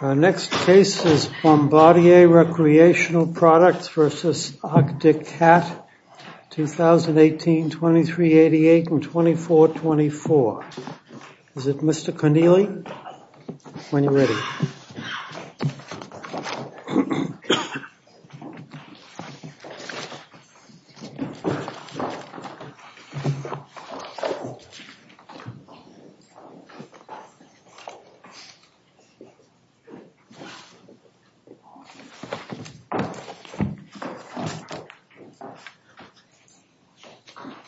Our next case is Bombardier Recreational Products v. Arctic Cat, 2018, 2388 and 2424. Is it Mr. Connealy? When you're ready.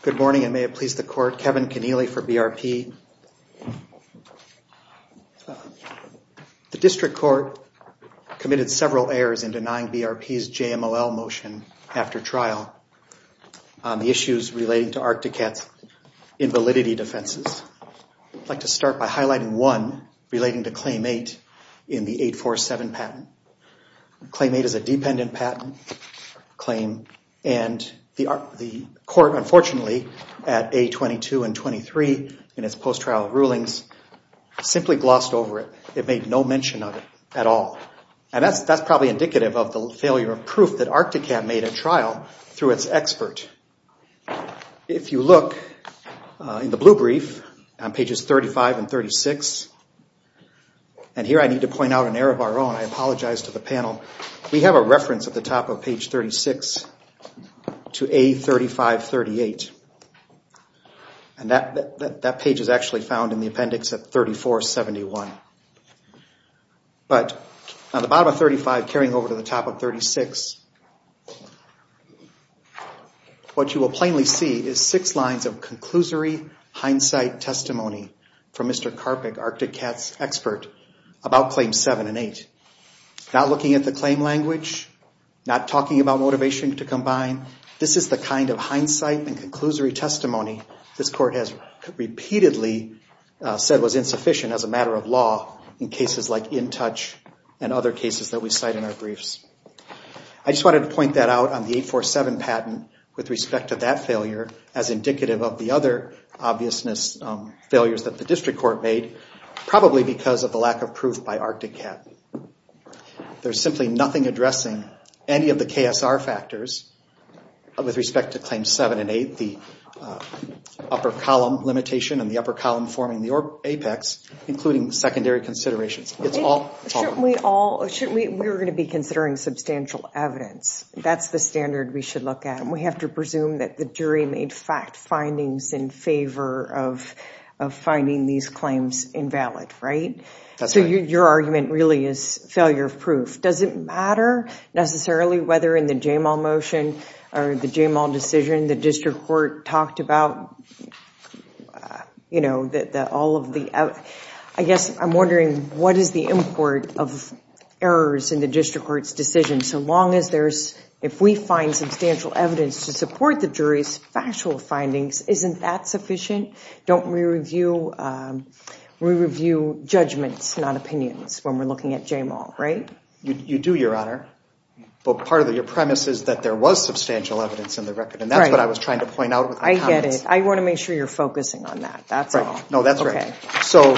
Good morning and may it please the court, Kevin Connealy for BRP. The district court committed several errors in denying BRP's JMLL motion after trial on the issues relating to Arctic Cat's invalidity defenses. I'd like to start by highlighting one relating to Claim 8 in the 847 patent. Claim 8 is a dependent patent claim and the court, unfortunately, at A22 and 23 in its post-trial rulings simply glossed over it. It made no mention of it at all. And that's probably indicative of the failure of proof that Arctic Cat made a trial through its expert. If you look in the blue brief on pages 35 and 36, and here I need to point out an error of our own. I apologize to the panel. We have a reference at the top of page 36 to A3538. And that page is actually found in the appendix at 3471. But on the bottom of 35 carrying over to the top of 36, what you will plainly see is six lines of conclusory hindsight testimony from Mr. Carpick, Arctic Cat's expert, about Claim 7 and 8. Not looking at the claim language, not talking about motivation to combine. This is the kind of hindsight and conclusory testimony this court has repeatedly said was insufficient as a matter of law in cases like InTouch and other cases that we cite in our briefs. I just wanted to point that out on the 847 patent with respect to that failure as indicative of the other obviousness failures that the district court made, probably because of the lack of proof by Arctic Cat. There's simply nothing addressing any of the KSR factors with respect to Claim 7 and 8, the upper column limitation and the upper column forming the apex, including the secondary considerations. We were going to be considering substantial evidence. That's the standard we should look at. We have to presume that the jury made fact findings in favor of finding these claims invalid, right? So your argument really is failure of proof. Does it matter necessarily whether in the Jamal motion or the Jamal decision the district court talked about, you know, that all of the, I guess I'm wondering what is the import of errors in the district court's decision? So long as there's, if we find substantial evidence to support the jury's factual findings, isn't that sufficient? Don't we review judgments, not opinions when we're looking at Jamal, right? You do, Your Honor. But part of your premise is that there was substantial evidence in the record, and that's what I was trying to point out. I get it. I want to make sure you're focusing on that. That's all. No, that's right. So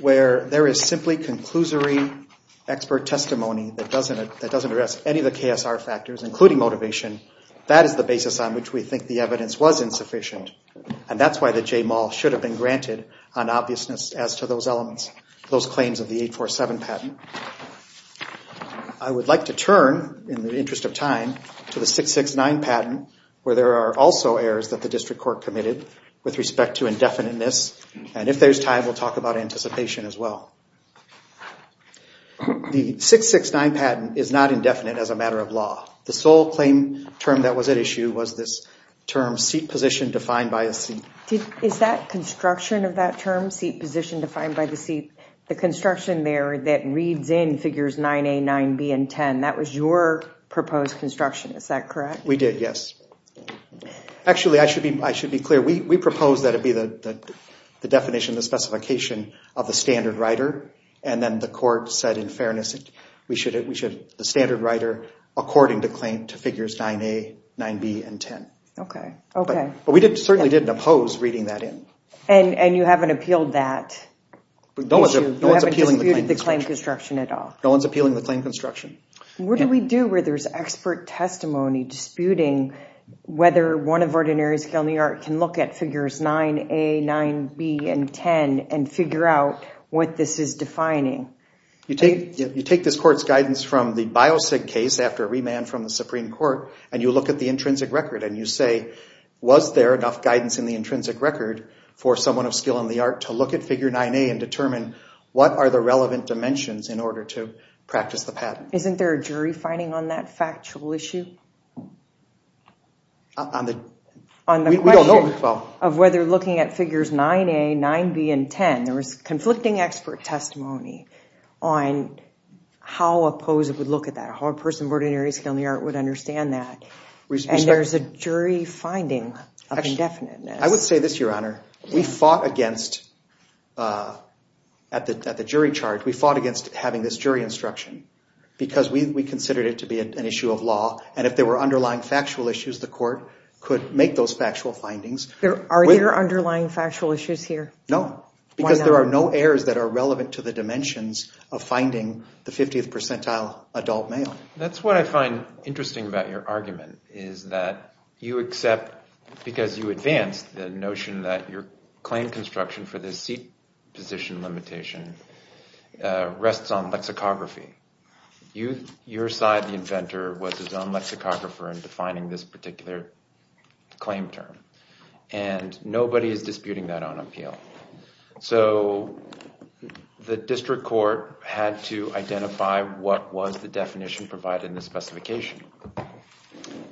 where there is simply conclusory expert testimony that doesn't address any of the KSR factors, including motivation, that is the basis on which we think the evidence was insufficient. And that's why the Jamal should have been granted an obviousness as to those elements, those claims of the 847 patent. I would like to turn, in the interest of time, to the 669 patent, where there are also errors that the district court committed with respect to indefiniteness. And if there's time, we'll talk about anticipation as well. The 669 patent is not indefinite as a matter of law. The sole claim term that was at issue was this term seat position defined by a seat. Is that construction of that term, seat position defined by the seat, the construction there that reads in figures 9A, 9B, and 10, that was your proposed construction, is that correct? We did, yes. Actually, I should be clear. We proposed that it be the definition, the specification of the standard rider. And then the court said, in fairness, we should have the standard rider according to claim to figures 9A, 9B, and 10. But we certainly didn't oppose reading that in. And you haven't appealed that issue? You haven't disputed the claim construction at all? No one's appealing the claim construction. What do we do where there's expert testimony disputing whether one of Ordinary Scale New York can look at figures 9A, 9B, and 10 and figure out what this is defining? You take this court's guidance from the Biosig case after a remand from the Supreme Court and you look at the intrinsic record and you say, was there enough guidance in the intrinsic record for someone of skill in the art to look at figure 9A and determine what are the relevant dimensions in order to practice the patent? Isn't there a jury finding on that factual issue? On the question of whether looking at figures 9A, 9B, and 10, there was conflicting expert testimony. On how opposed it would look at that, how a person of Ordinary Scale New York would understand that. And there's a jury finding of indefiniteness. I would say this, Your Honor. We fought against, at the jury charge, we fought against having this jury instruction. Because we considered it to be an issue of law. And if there were underlying factual issues, the court could make those factual findings. Are there underlying factual issues here? No. Because there are no errors that are relevant to the dimensions of finding the 50th percentile adult male. That's what I find interesting about your argument. Is that you accept, because you advanced the notion that your claim construction for this seat position limitation rests on lexicography. Your side, the inventor, was his own lexicographer in defining this particular claim term. And nobody is disputing that on appeal. So the district court had to identify what was the definition provided in the specification.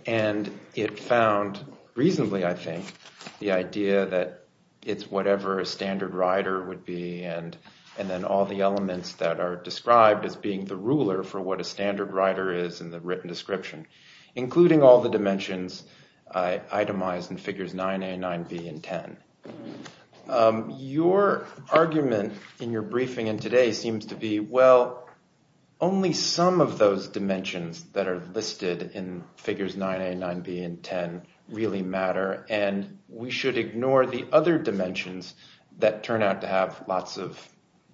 And it found reasonably, I think, the idea that it's whatever a standard rider would be. And then all the elements that are described as being the ruler for what a standard rider is in the written description. Including all the dimensions itemized in figures 9A, 9B, and 10. Your argument in your briefing and today seems to be, well, only some of those dimensions that are listed in figures 9A, 9B, and 10 really matter. And we should ignore the other dimensions that turn out to have lots of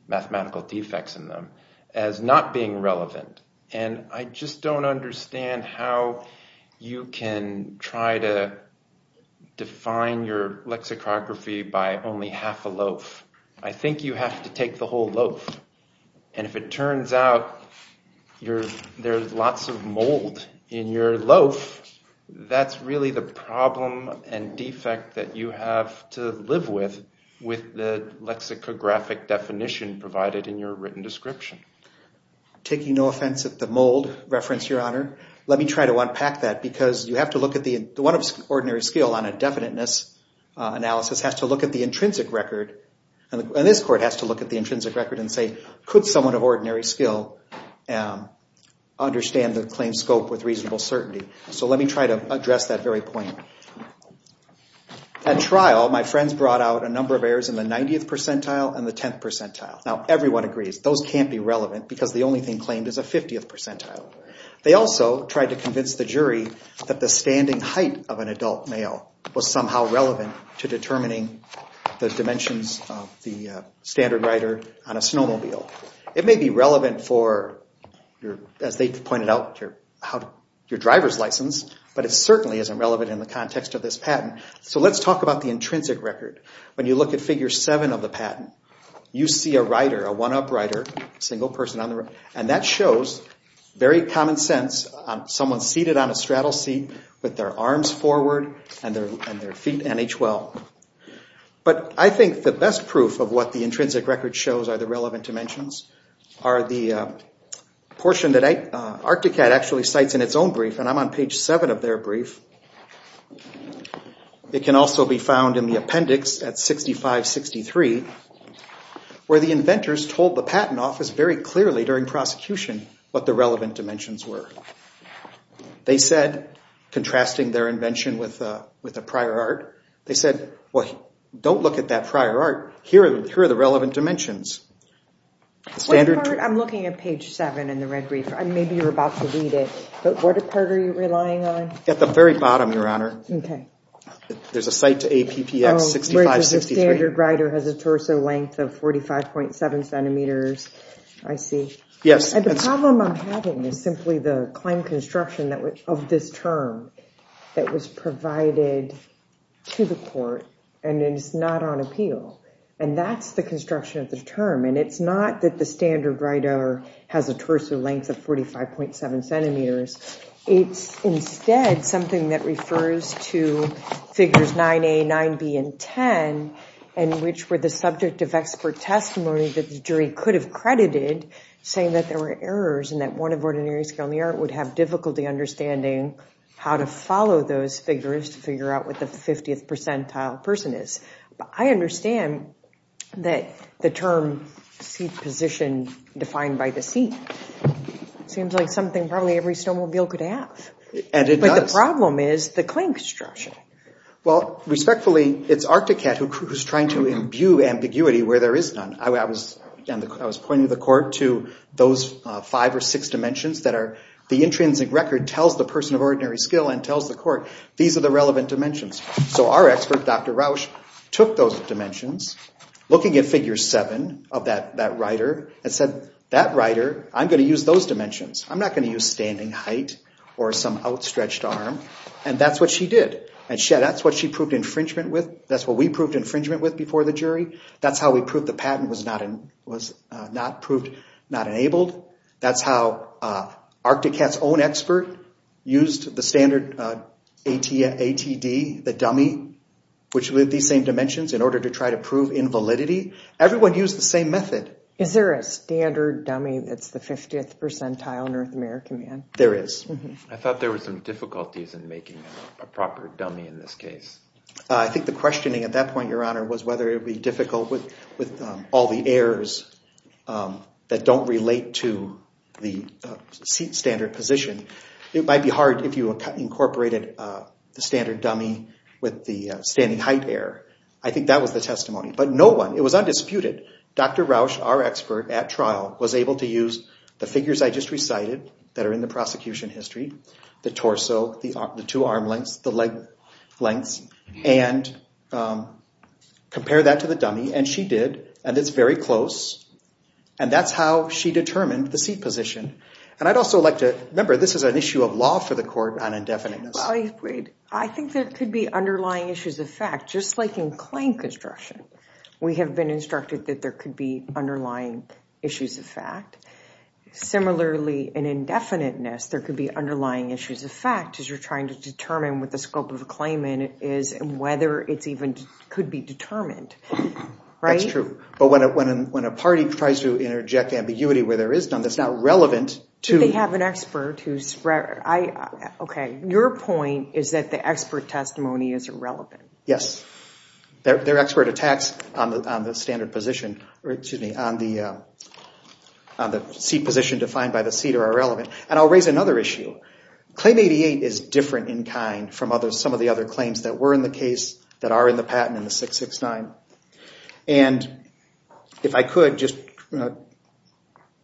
mathematical defects in them as not being relevant. And I just don't understand how you can try to define your lexicography by only half a loaf. I think you have to take the whole loaf. And if it turns out there's lots of mold in your loaf, that's really the problem and defect that you have to live with, with the lexicographic definition provided in your written description. Taking no offense at the mold reference, Your Honor, let me try to unpack that. Because you have to look at the one of ordinary skill on a definiteness analysis has to look at the intrinsic record. And this court has to look at the intrinsic record and say, could someone of ordinary skill understand the claim scope with reasonable certainty? So let me try to address that very point. At trial, my friends brought out a number of errors in the 90th percentile and the 10th percentile. Now, everyone agrees those can't be relevant because the only thing claimed is a 50th percentile. They also tried to convince the jury that the standing height of an adult male was somehow relevant to determining the dimensions of the standard rider on a snowmobile. It may be relevant for, as they pointed out, your driver's license, but it certainly isn't relevant in the context of this patent. So let's talk about the intrinsic record. When you look at Figure 7 of the patent, you see a rider, a one-up rider, a single person on the road. And that shows very common sense, someone seated on a straddle seat with their arms forward and their feet NHL. But I think the best proof of what the intrinsic record shows are the relevant dimensions, are the portion that Arcticat actually cites in its own brief, and I'm on page 7 of their brief. It can also be found in the appendix at 6563 where the inventors told the patent office very clearly during prosecution what the relevant dimensions were. They said, contrasting their invention with a prior art, they said, well, don't look at that prior art. Here are the relevant dimensions. Which part? I'm looking at page 7 in the red brief. Maybe you're about to read it. But what part are you relying on? At the very bottom, Your Honor. OK. There's a cite to APPX 6563. Where the standard rider has a torso length of 45.7 centimeters, I see. Yes. And the problem I'm having is simply the claim construction of this term that was provided to the court and is not on appeal. And that's the construction of the term. And it's not that the standard rider has a torso length of 45.7 centimeters. It's instead something that refers to figures 9A, 9B, and 10, and which were the subject of expert testimony that the jury could have credited, saying that there were errors and that one of ordinary skill in the art would have difficulty understanding how to follow those figures to figure out what the 50th percentile person is. But I understand that the term seat position defined by the seat seems like something probably every snowmobile could have. And it does. But the problem is the claim construction. Well, respectfully, it's Arcticat who's trying to imbue ambiguity where there is none. I was pointing to the court to those five or six dimensions that the intrinsic record tells the person of ordinary skill and tells the court, these are the relevant dimensions. So our expert, Dr. Rausch, took those dimensions, looking at figure 7 of that rider, and said, that rider, I'm going to use those dimensions. I'm not going to use standing height or some outstretched arm. And that's what she did. And that's what she proved infringement with. That's what we proved infringement with before the jury. That's how we proved the patent was not enabled. That's how Arcticat's own expert used the standard ATD, the dummy, which lived these same dimensions, in order to try to prove invalidity. Everyone used the same method. Is there a standard dummy that's the 50th percentile North American man? There is. I thought there were some difficulties in making a proper dummy in this case. I think the questioning at that point, Your Honor, was whether it would be difficult with all the errors that don't relate to the seat standard position. It might be hard if you incorporated the standard dummy with the standing height error. I think that was the testimony. But no one, it was undisputed, Dr. Rausch, our expert at trial, was able to use the figures I just recited that are in the prosecution history, the torso, the two arm lengths, the leg lengths, and compare that to the dummy. And she did. And it's very close. And that's how she determined the seat position. And I'd also like to remember this is an issue of law for the court on indefiniteness. I think there could be underlying issues of fact, just like in claim construction. We have been instructed that there could be underlying issues of fact. Similarly, in indefiniteness, there could be underlying issues of fact as you're trying to determine what the scope of the claimant is and whether it even could be determined. That's true. But when a party tries to interject ambiguity where there is none, that's not relevant to— They have an expert who's— Okay, your point is that the expert testimony is irrelevant. Yes. Their expert attacks on the standard position, or excuse me, on the seat position defined by the seat are irrelevant. And I'll raise another issue. Claim 88 is different in kind from some of the other claims that were in the case that are in the patent in the 669. And if I could, just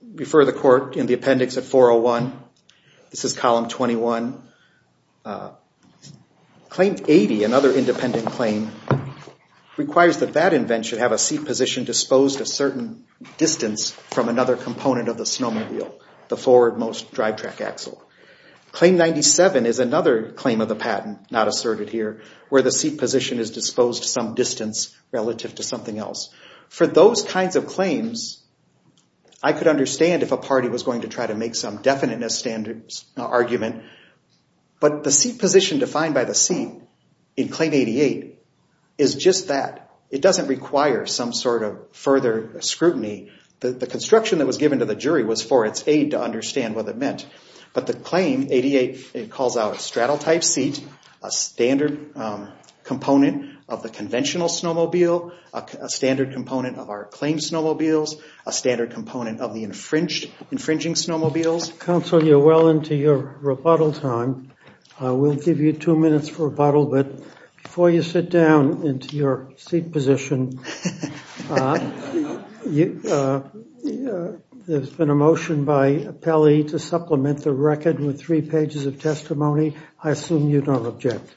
refer the court in the appendix at 401. This is column 21. Claim 80, another independent claim, requires that that event should have a seat position disposed a certain distance from another component of the snowmobile, the forward-most drivetrack axle. Claim 97 is another claim of the patent, not asserted here, where the seat position is disposed some distance relative to something else. For those kinds of claims, I could understand if a party was going to try to make some definiteness argument but the seat position defined by the seat in Claim 88 is just that. It doesn't require some sort of further scrutiny. The construction that was given to the jury was for its aid to understand what it meant. But the claim, 88, it calls out a straddle-type seat, a standard component of the conventional snowmobile, a standard component of our claimed snowmobiles, a standard component of the infringing snowmobiles. Counsel, you're well into your rebuttal time. We'll give you two minutes for rebuttal, but before you sit down into your seat position, there's been a motion by Pelley to supplement the record with three pages of testimony. I assume you don't object.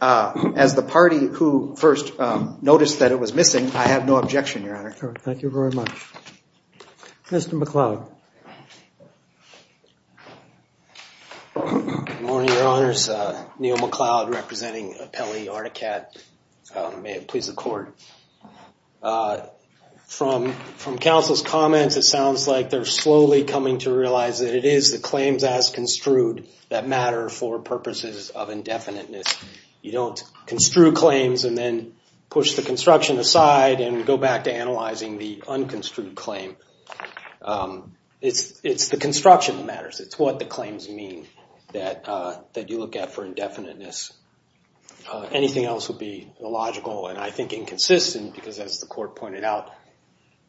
As the party who first noticed that it was missing, I have no objection, Your Honor. Thank you very much. Mr. McCloud. Good morning, Your Honors. Neil McCloud representing Pelley Articat. May it please the Court. From counsel's comments, it sounds like they're slowly coming to realize that it is the claims as construed that matter for purposes of indefiniteness. You don't construe claims and then push the construction aside and go back to analyzing the unconstrued claim. It's the construction that matters. It's what the claims mean that you look at for indefiniteness. Anything else would be illogical and, I think, inconsistent because, as the Court pointed out,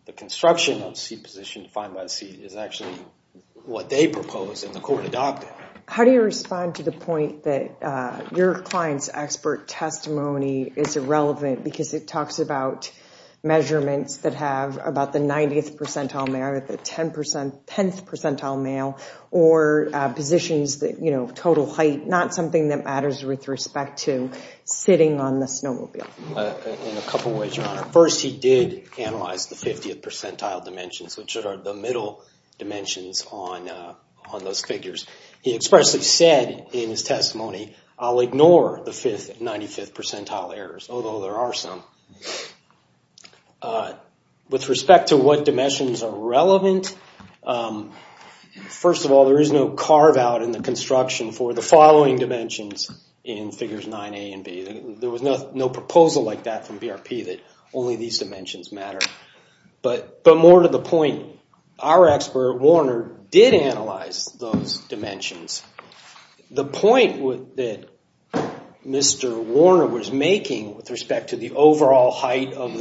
the construction of the seat position defined by the seat is actually what they proposed and the Court adopted. How do you respond to the point that your client's expert testimony is irrelevant because it talks about measurements that have about the 90th percentile male or the 10th percentile male or positions that, you know, total height, not something that matters with respect to sitting on the snowmobile? In a couple of ways, Your Honor. First, he did analyze the 50th percentile dimensions, which are the middle dimensions on those figures. He expressly said in his testimony, I'll ignore the 5th and 95th percentile errors, although there are some. With respect to what dimensions are relevant, first of all, there is no carve-out in the construction for the following dimensions in figures 9A and B. There was no proposal like that from BRP that only these dimensions matter. But more to the point, our expert, Warner, did analyze those dimensions. The point that Mr. Warner was making with respect to the overall height of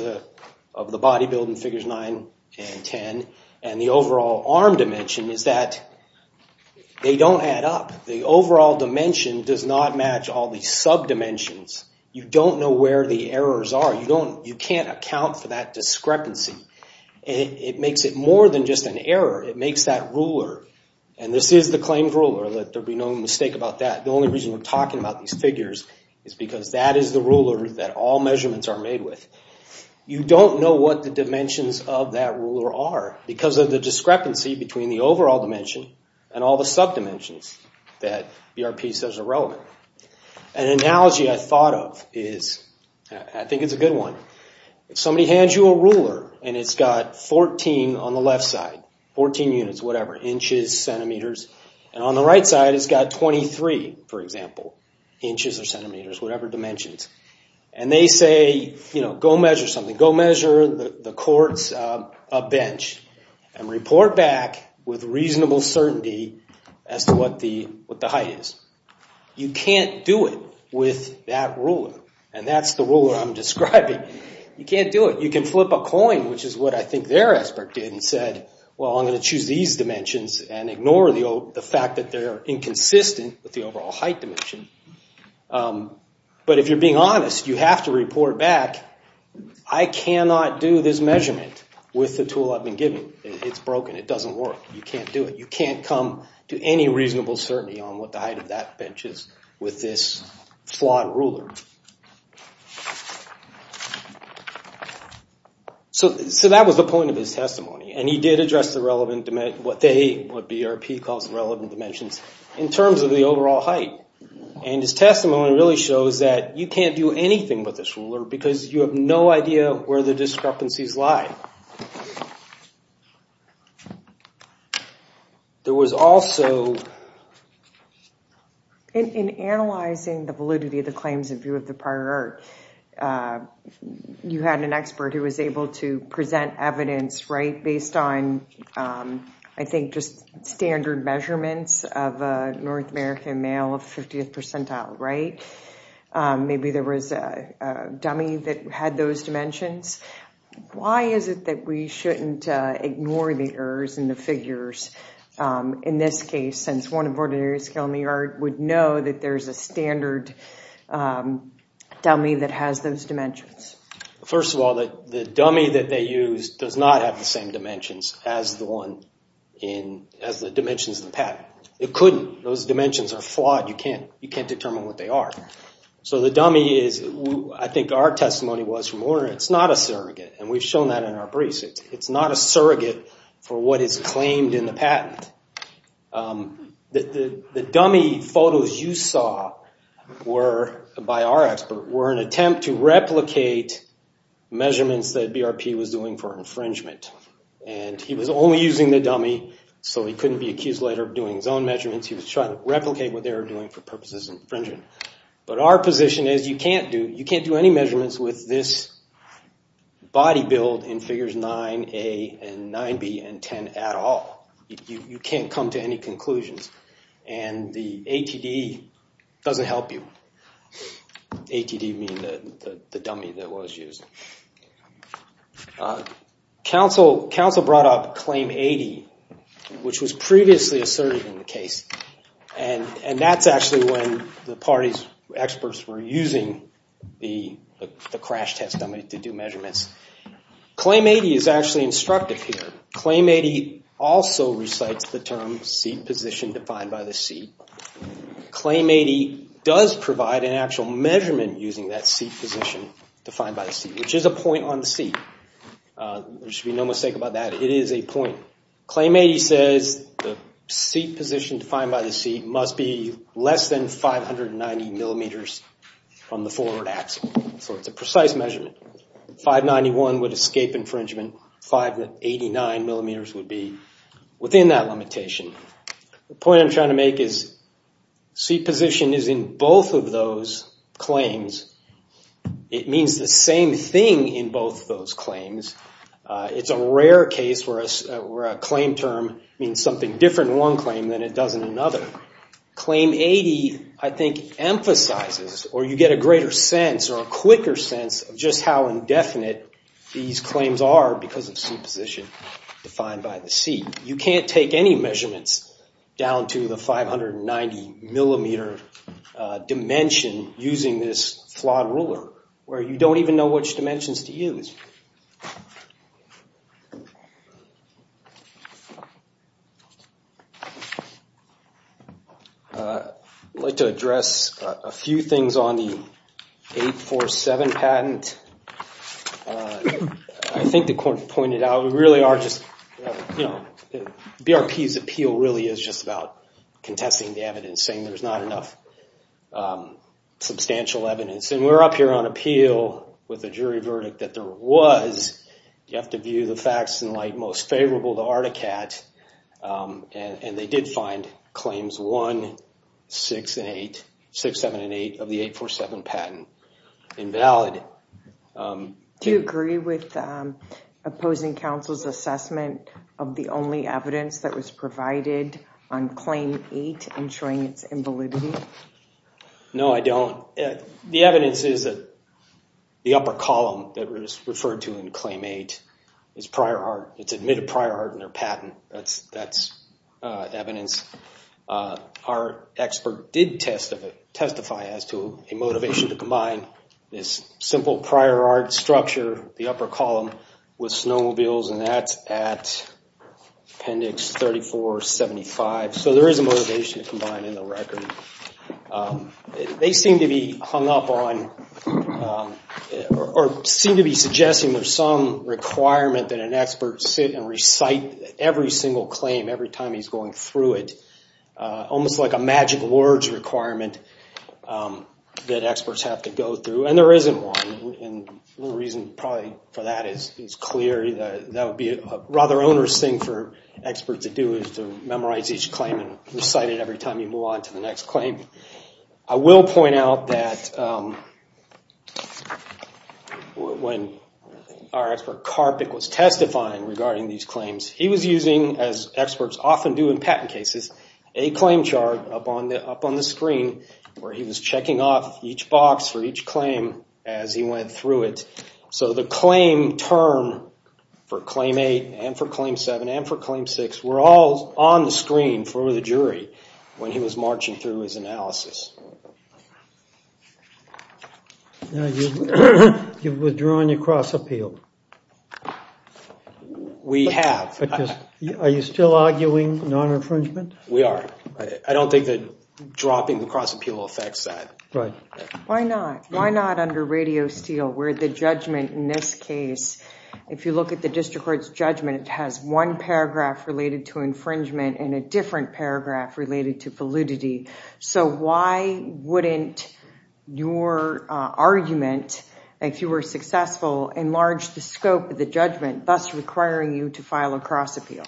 the body build in figures 9 and 10 and the overall arm dimension is that they don't add up. The overall dimension does not match all these sub-dimensions. You don't know where the errors are. You can't account for that discrepancy. It makes it more than just an error. It makes that ruler, and this is the claimed ruler. There will be no mistake about that. The only reason we're talking about these figures is because that is the ruler that all measurements are made with. You don't know what the dimensions of that ruler are because of the discrepancy between the overall dimension and all the sub-dimensions that BRP says are relevant. An analogy I thought of is, I think it's a good one. If somebody hands you a ruler and it's got 14 on the left side, 14 units, whatever, inches, centimeters, and on the right side it's got 23, for example, inches or centimeters, whatever dimensions, and they say, you know, go measure something. Go measure the court's bench and report back with reasonable certainty as to what the height is. You can't do it with that ruler, and that's the ruler I'm describing. You can't do it. You can flip a coin, which is what I think their aspect did, and said, well, I'm going to choose these dimensions and ignore the fact that they're inconsistent with the overall height dimension. But if you're being honest, you have to report back, I cannot do this measurement with the tool I've been given. It's broken. It doesn't work. You can't do it. You can't come to any reasonable certainty on what the height of that bench is with this flawed ruler. So that was the point of his testimony, and he did address the relevant dimensions, what they, what BRP calls the relevant dimensions, in terms of the overall height. And his testimony really shows that you can't do anything with this ruler because you have no idea where the discrepancies lie. There was also. In analyzing the validity of the claims in view of the prior, you had an expert who was able to present evidence, right, based on, I think, just standard measurements of a North American male of 50th percentile, right? Maybe there was a dummy that had those dimensions. Why is it that we shouldn't ignore the errors in the figures, in this case, since one of ordinary skill in the art would know that there's a standard dummy that has those dimensions? First of all, the dummy that they used does not have the same dimensions as the one in, as the dimensions in the patent. It couldn't. Those dimensions are flawed. You can't determine what they are. So the dummy is, I think our testimony was from Warner, it's not a surrogate, and we've shown that in our briefs. It's not a surrogate for what is claimed in the patent. The dummy photos you saw were, by our expert, were an attempt to replicate measurements that BRP was doing for infringement. And he was only using the dummy, so he couldn't be accused later of doing his own measurements. He was trying to replicate what they were doing for purposes of infringement. But our position is you can't do any measurements with this body build in figures 9A and 9B and 10 at all. You can't come to any conclusions. And the ATD doesn't help you. ATD being the dummy that was used. Council brought up Claim 80, which was previously asserted in the case. And that's actually when the party's experts were using the crash test dummy to do measurements. Claim 80 is actually instructive here. Claim 80 also recites the term seat position defined by the seat. Claim 80 does provide an actual measurement using that seat position defined by the seat, which is a point on the seat. There should be no mistake about that. It is a point. Claim 80 says the seat position defined by the seat must be less than 590 millimeters from the forward axle. So it's a precise measurement. 591 would escape infringement. 589 millimeters would be within that limitation. The point I'm trying to make is seat position is in both of those claims. It means the same thing in both of those claims. It's a rare case where a claim term means something different in one claim than it does in another. Claim 80, I think, emphasizes or you get a greater sense or a quicker sense of just how indefinite these claims are because of seat position defined by the seat. You can't take any measurements down to the 590 millimeter dimension using this flawed ruler where you don't even know which dimensions to use. I'd like to address a few things on the 847 patent. I think the court pointed out we really are just, you know, BRP's appeal really is just about contesting the evidence, saying there's not enough substantial evidence. And we're up here on appeal with a jury verdict that there was, you have to view the facts in light, most favorable to Articat. And they did find claims 1, 6, 7, and 8 of the 847 patent invalid. Do you agree with opposing counsel's assessment of the only evidence that was provided on claim 8 and showing its invalidity? No, I don't. The evidence is that the upper column that was referred to in claim 8 is prior art. It's admitted prior art in their patent. That's evidence. Our expert did testify as to a motivation to combine this simple prior art structure, the upper column, with snowmobiles, and that's at appendix 3475. So there is a motivation to combine in the record. They seem to be hung up on, or seem to be suggesting there's some requirement that an expert sit and recite every single claim every time he's going through it. Almost like a magic words requirement that experts have to go through. And there isn't one. The reason probably for that is clear. That would be a rather onerous thing for an expert to do is to memorize each claim and recite it every time you move on to the next claim. I will point out that when our expert Karpik was testifying regarding these claims, he was using, as experts often do in patent cases, a claim chart up on the screen where he was checking off each box for each claim as he went through it. So the claim term for claim 8 and for claim 7 and for claim 6 were all on the screen for the jury when he was marching through his analysis. You've withdrawn your cross-appeal. We have. Are you still arguing non-infringement? We are. I don't think that dropping the cross-appeal affects that. Right. Why not? Why not under radio steel where the judgment in this case, if you look at the district court's judgment, it has one paragraph related to infringement and a different paragraph related to validity. So why wouldn't your argument, if you were successful, enlarge the scope of the judgment, thus requiring you to file a cross-appeal?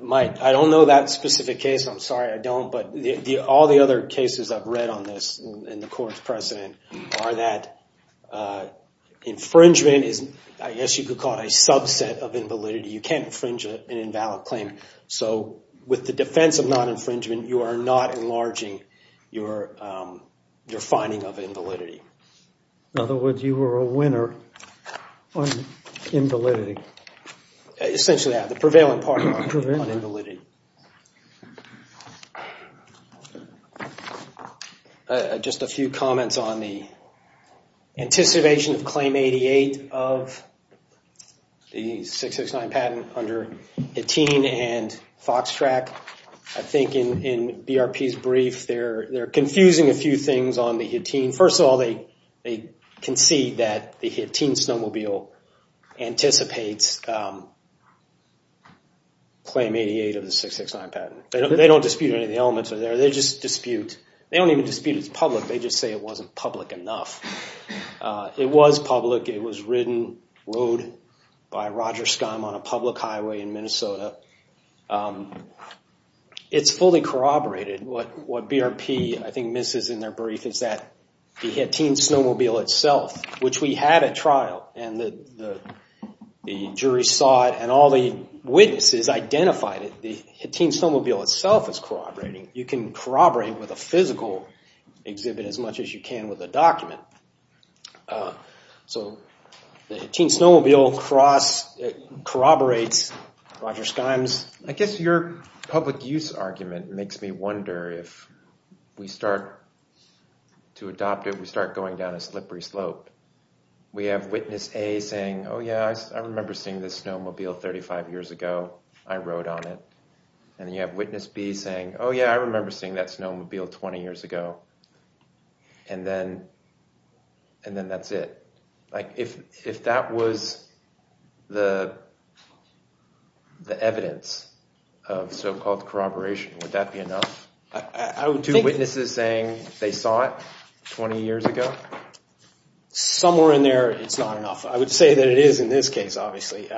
Mike, I don't know that specific case. I'm sorry, I don't. But all the other cases I've read on this in the court's precedent are that infringement is, I guess you could call it, a subset of invalidity. You can't infringe an invalid claim. So with the defense of non-infringement, you are not enlarging your finding of invalidity. In other words, you were a winner on invalidity. Essentially, yeah, the prevailing part on invalidity. Thank you. Just a few comments on the anticipation of Claim 88 of the 669 patent under Hattin and Foxtrack. I think in BRP's brief, they're confusing a few things on the Hattin. First of all, they concede that the teen snowmobile anticipates Claim 88 of the 669 patent. They don't dispute any of the elements there. They just dispute. They don't even dispute it's public. They just say it wasn't public enough. It was public. It was ridden, rode by Roger Scum on a public highway in Minnesota. It's fully corroborated. What BRP, I think, misses in their brief is that the Hattin snowmobile itself, which we had at trial, and the jury saw it, and all the witnesses identified it. The Hattin snowmobile itself is corroborating. You can corroborate with a physical exhibit as much as you can with a document. So the Hattin snowmobile corroborates Roger Scum's— where if we start to adopt it, we start going down a slippery slope. We have witness A saying, oh, yeah, I remember seeing this snowmobile 35 years ago. I rode on it. And you have witness B saying, oh, yeah, I remember seeing that snowmobile 20 years ago. And then that's it. If that was the evidence of so-called corroboration, would that be enough? Two witnesses saying they saw it 20 years ago? Somewhere in there, it's not enough. I would say that it is in this case, obviously.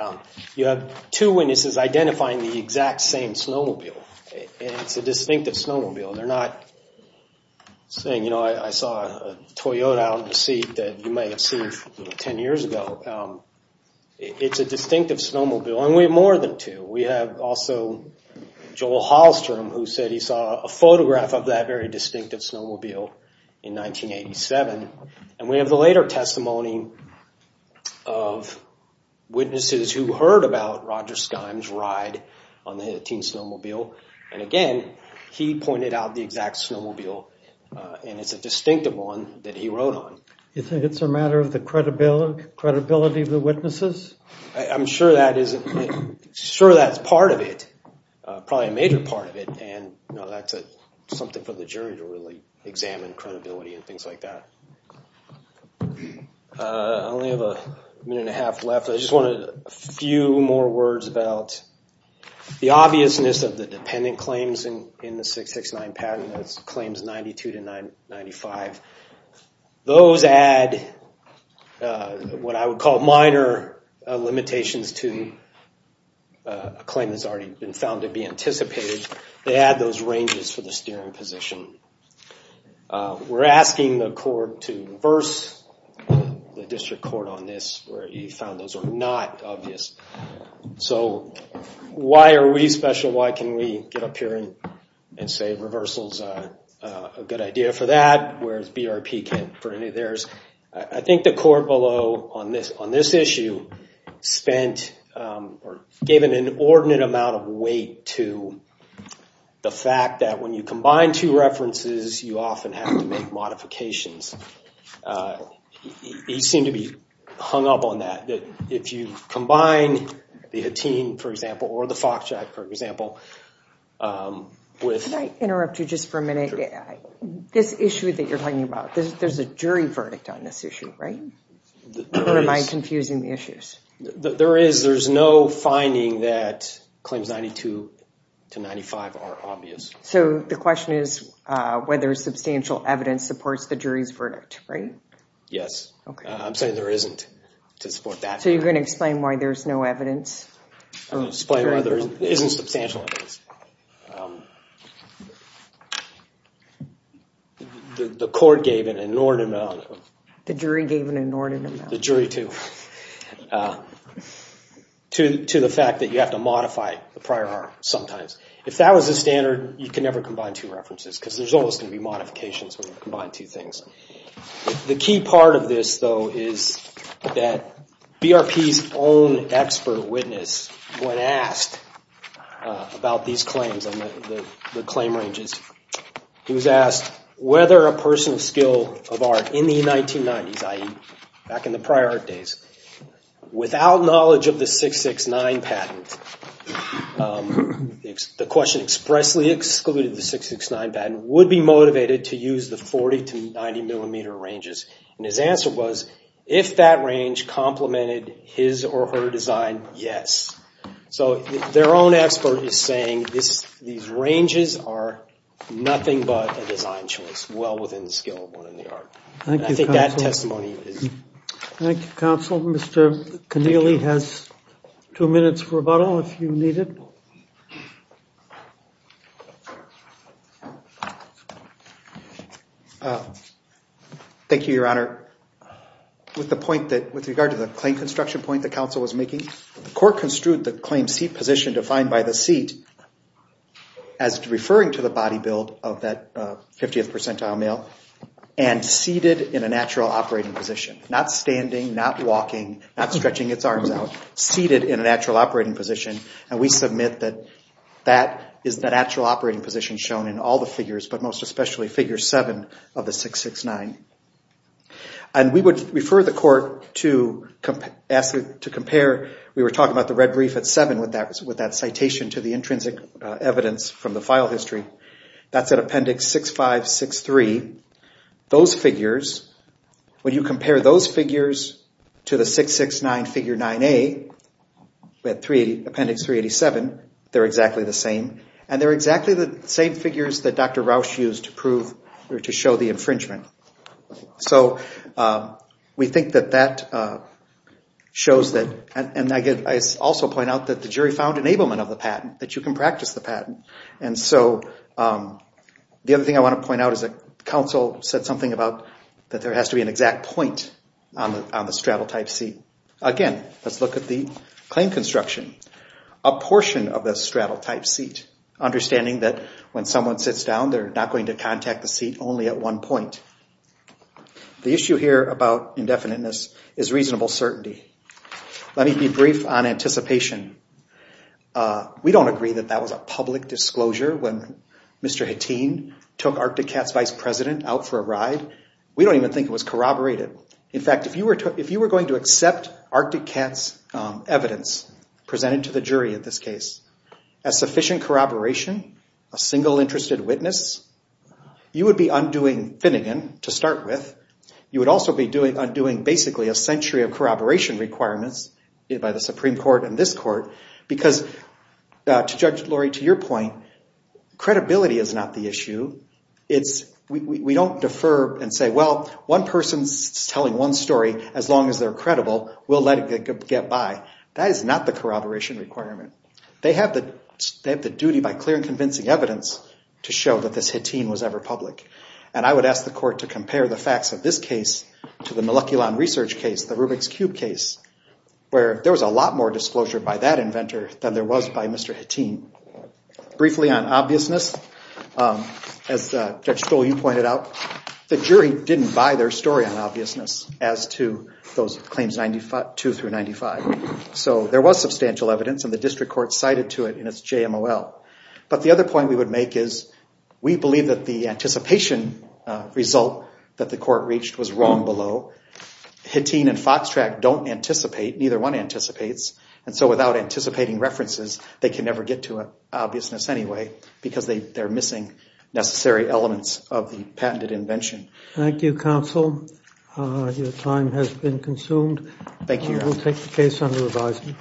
You have two witnesses identifying the exact same snowmobile, and it's a distinctive snowmobile. They're not saying, you know, I saw a Toyota out in the seat that you may have seen 10 years ago. It's a distinctive snowmobile, and we have more than two. We have also Joel Hallstrom, who said he saw a photograph of that very distinctive snowmobile in 1987. And we have the later testimony of witnesses who heard about Roger Scum's ride on the Hattin snowmobile. And again, he pointed out the exact snowmobile, and it's a distinctive one that he rode on. You think it's a matter of the credibility of the witnesses? I'm sure that's part of it, probably a major part of it. And that's something for the jury to really examine, credibility and things like that. I only have a minute and a half left. I just wanted a few more words about the obviousness of the dependent claims in the 669 patent. That's claims 92 to 95. Those add what I would call minor limitations to a claim that's already been found to be anticipated. They add those ranges for the steering position. We're asking the court to reverse the district court on this, where he found those are not obvious. So why are we special? Why can we get up here and say reversal's a good idea for that, whereas BRP can't for any of theirs? I think the court below on this issue spent or gave an inordinate amount of weight to the fact that when you combine two references, you often have to make modifications. He seemed to be hung up on that, that if you combine the Hattin, for example, or the Foxtrot, for example, with... Can I interrupt you just for a minute? This issue that you're talking about, there's a jury verdict on this issue, right? Or am I confusing the issues? There is. There's no finding that claims 92 to 95 are obvious. So the question is whether substantial evidence supports the jury's verdict, right? Yes. I'm saying there isn't to support that. So you're going to explain why there's no evidence? I'm going to explain why there isn't substantial evidence. The court gave an inordinate amount of... The jury gave an inordinate amount. The jury, too, to the fact that you have to modify the prior arm sometimes. If that was the standard, you can never combine two references, because there's always going to be modifications when you combine two things. The key part of this, though, is that BRP's own expert witness, when asked about these claims, the claim ranges, he was asked whether a person of skill of art in the 1990s, i.e., back in the prior art days, without knowledge of the 669 patent, the question expressly excluded the 669 patent, would be motivated to use the 40 to 90 millimeter ranges. And his answer was, if that range complemented his or her design, yes. So their own expert is saying these ranges are nothing but a design choice, well within the skill of one in the art. I think that testimony is... Thank you, counsel. Mr. Connealy has two minutes for rebuttal, if you need it. Thank you, Your Honor. With the point that, with regard to the claim construction point the counsel was making, the court construed the claim seat position defined by the seat as referring to the body build of that 50th percentile male and seated in a natural operating position. Not standing, not walking, not stretching its arms out. Seated in a natural operating position. And we submit that that is the natural operating position shown in all the figures, but most especially figure 7 of the 669. And we would refer the court to compare, we were talking about the red brief at 7 with that citation to the intrinsic evidence from the file history. That's at appendix 6563. Those figures, when you compare those figures to the 669 figure 9A, we have appendix 387, they're exactly the same. And they're exactly the same figures that Dr. Rausch used to prove or to show the infringement. So we think that that shows that, and I also point out that the jury found enablement of the patent, that you can practice the patent. And so the other thing I want to point out is that counsel said something about that there has to be an exact point on the straddle type seat. Again, let's look at the claim construction. A portion of the straddle type seat, understanding that when someone sits down, they're not going to contact the seat only at one point. The issue here about indefiniteness is reasonable certainty. Let me be brief on anticipation. We don't agree that that was a public disclosure when Mr. Hattin took Arctic Cat's vice president out for a ride. We don't even think it was corroborated. In fact, if you were going to accept Arctic Cat's evidence presented to the jury in this case, as sufficient corroboration, a single interested witness, you would be undoing Finnegan to start with. You would also be undoing basically a century of corroboration requirements by the Supreme Court and this court, because, Judge Lurie, to your point, credibility is not the issue. We don't defer and say, well, one person's telling one story as long as they're credible. We'll let it get by. That is not the corroboration requirement. They have the duty by clear and convincing evidence to show that this Hattin was ever public. I would ask the court to compare the facts of this case to the Moleculon Research case, the Rubik's Cube case, where there was a lot more disclosure by that inventor than there was by Mr. Hattin. Briefly on obviousness, as Judge Stoll, you pointed out, the jury didn't buy their story on obviousness as to those claims 2 through 95. There was substantial evidence and the district court cited to it in its JMOL. But the other point we would make is we believe that the anticipation result that the court reached was wrong below. Hattin and Foxtrack don't anticipate, neither one anticipates, and so without anticipating references they can never get to obviousness anyway because they're missing necessary elements of the patented invention. Thank you, counsel. Your time has been consumed. Thank you. We'll take the case under revision.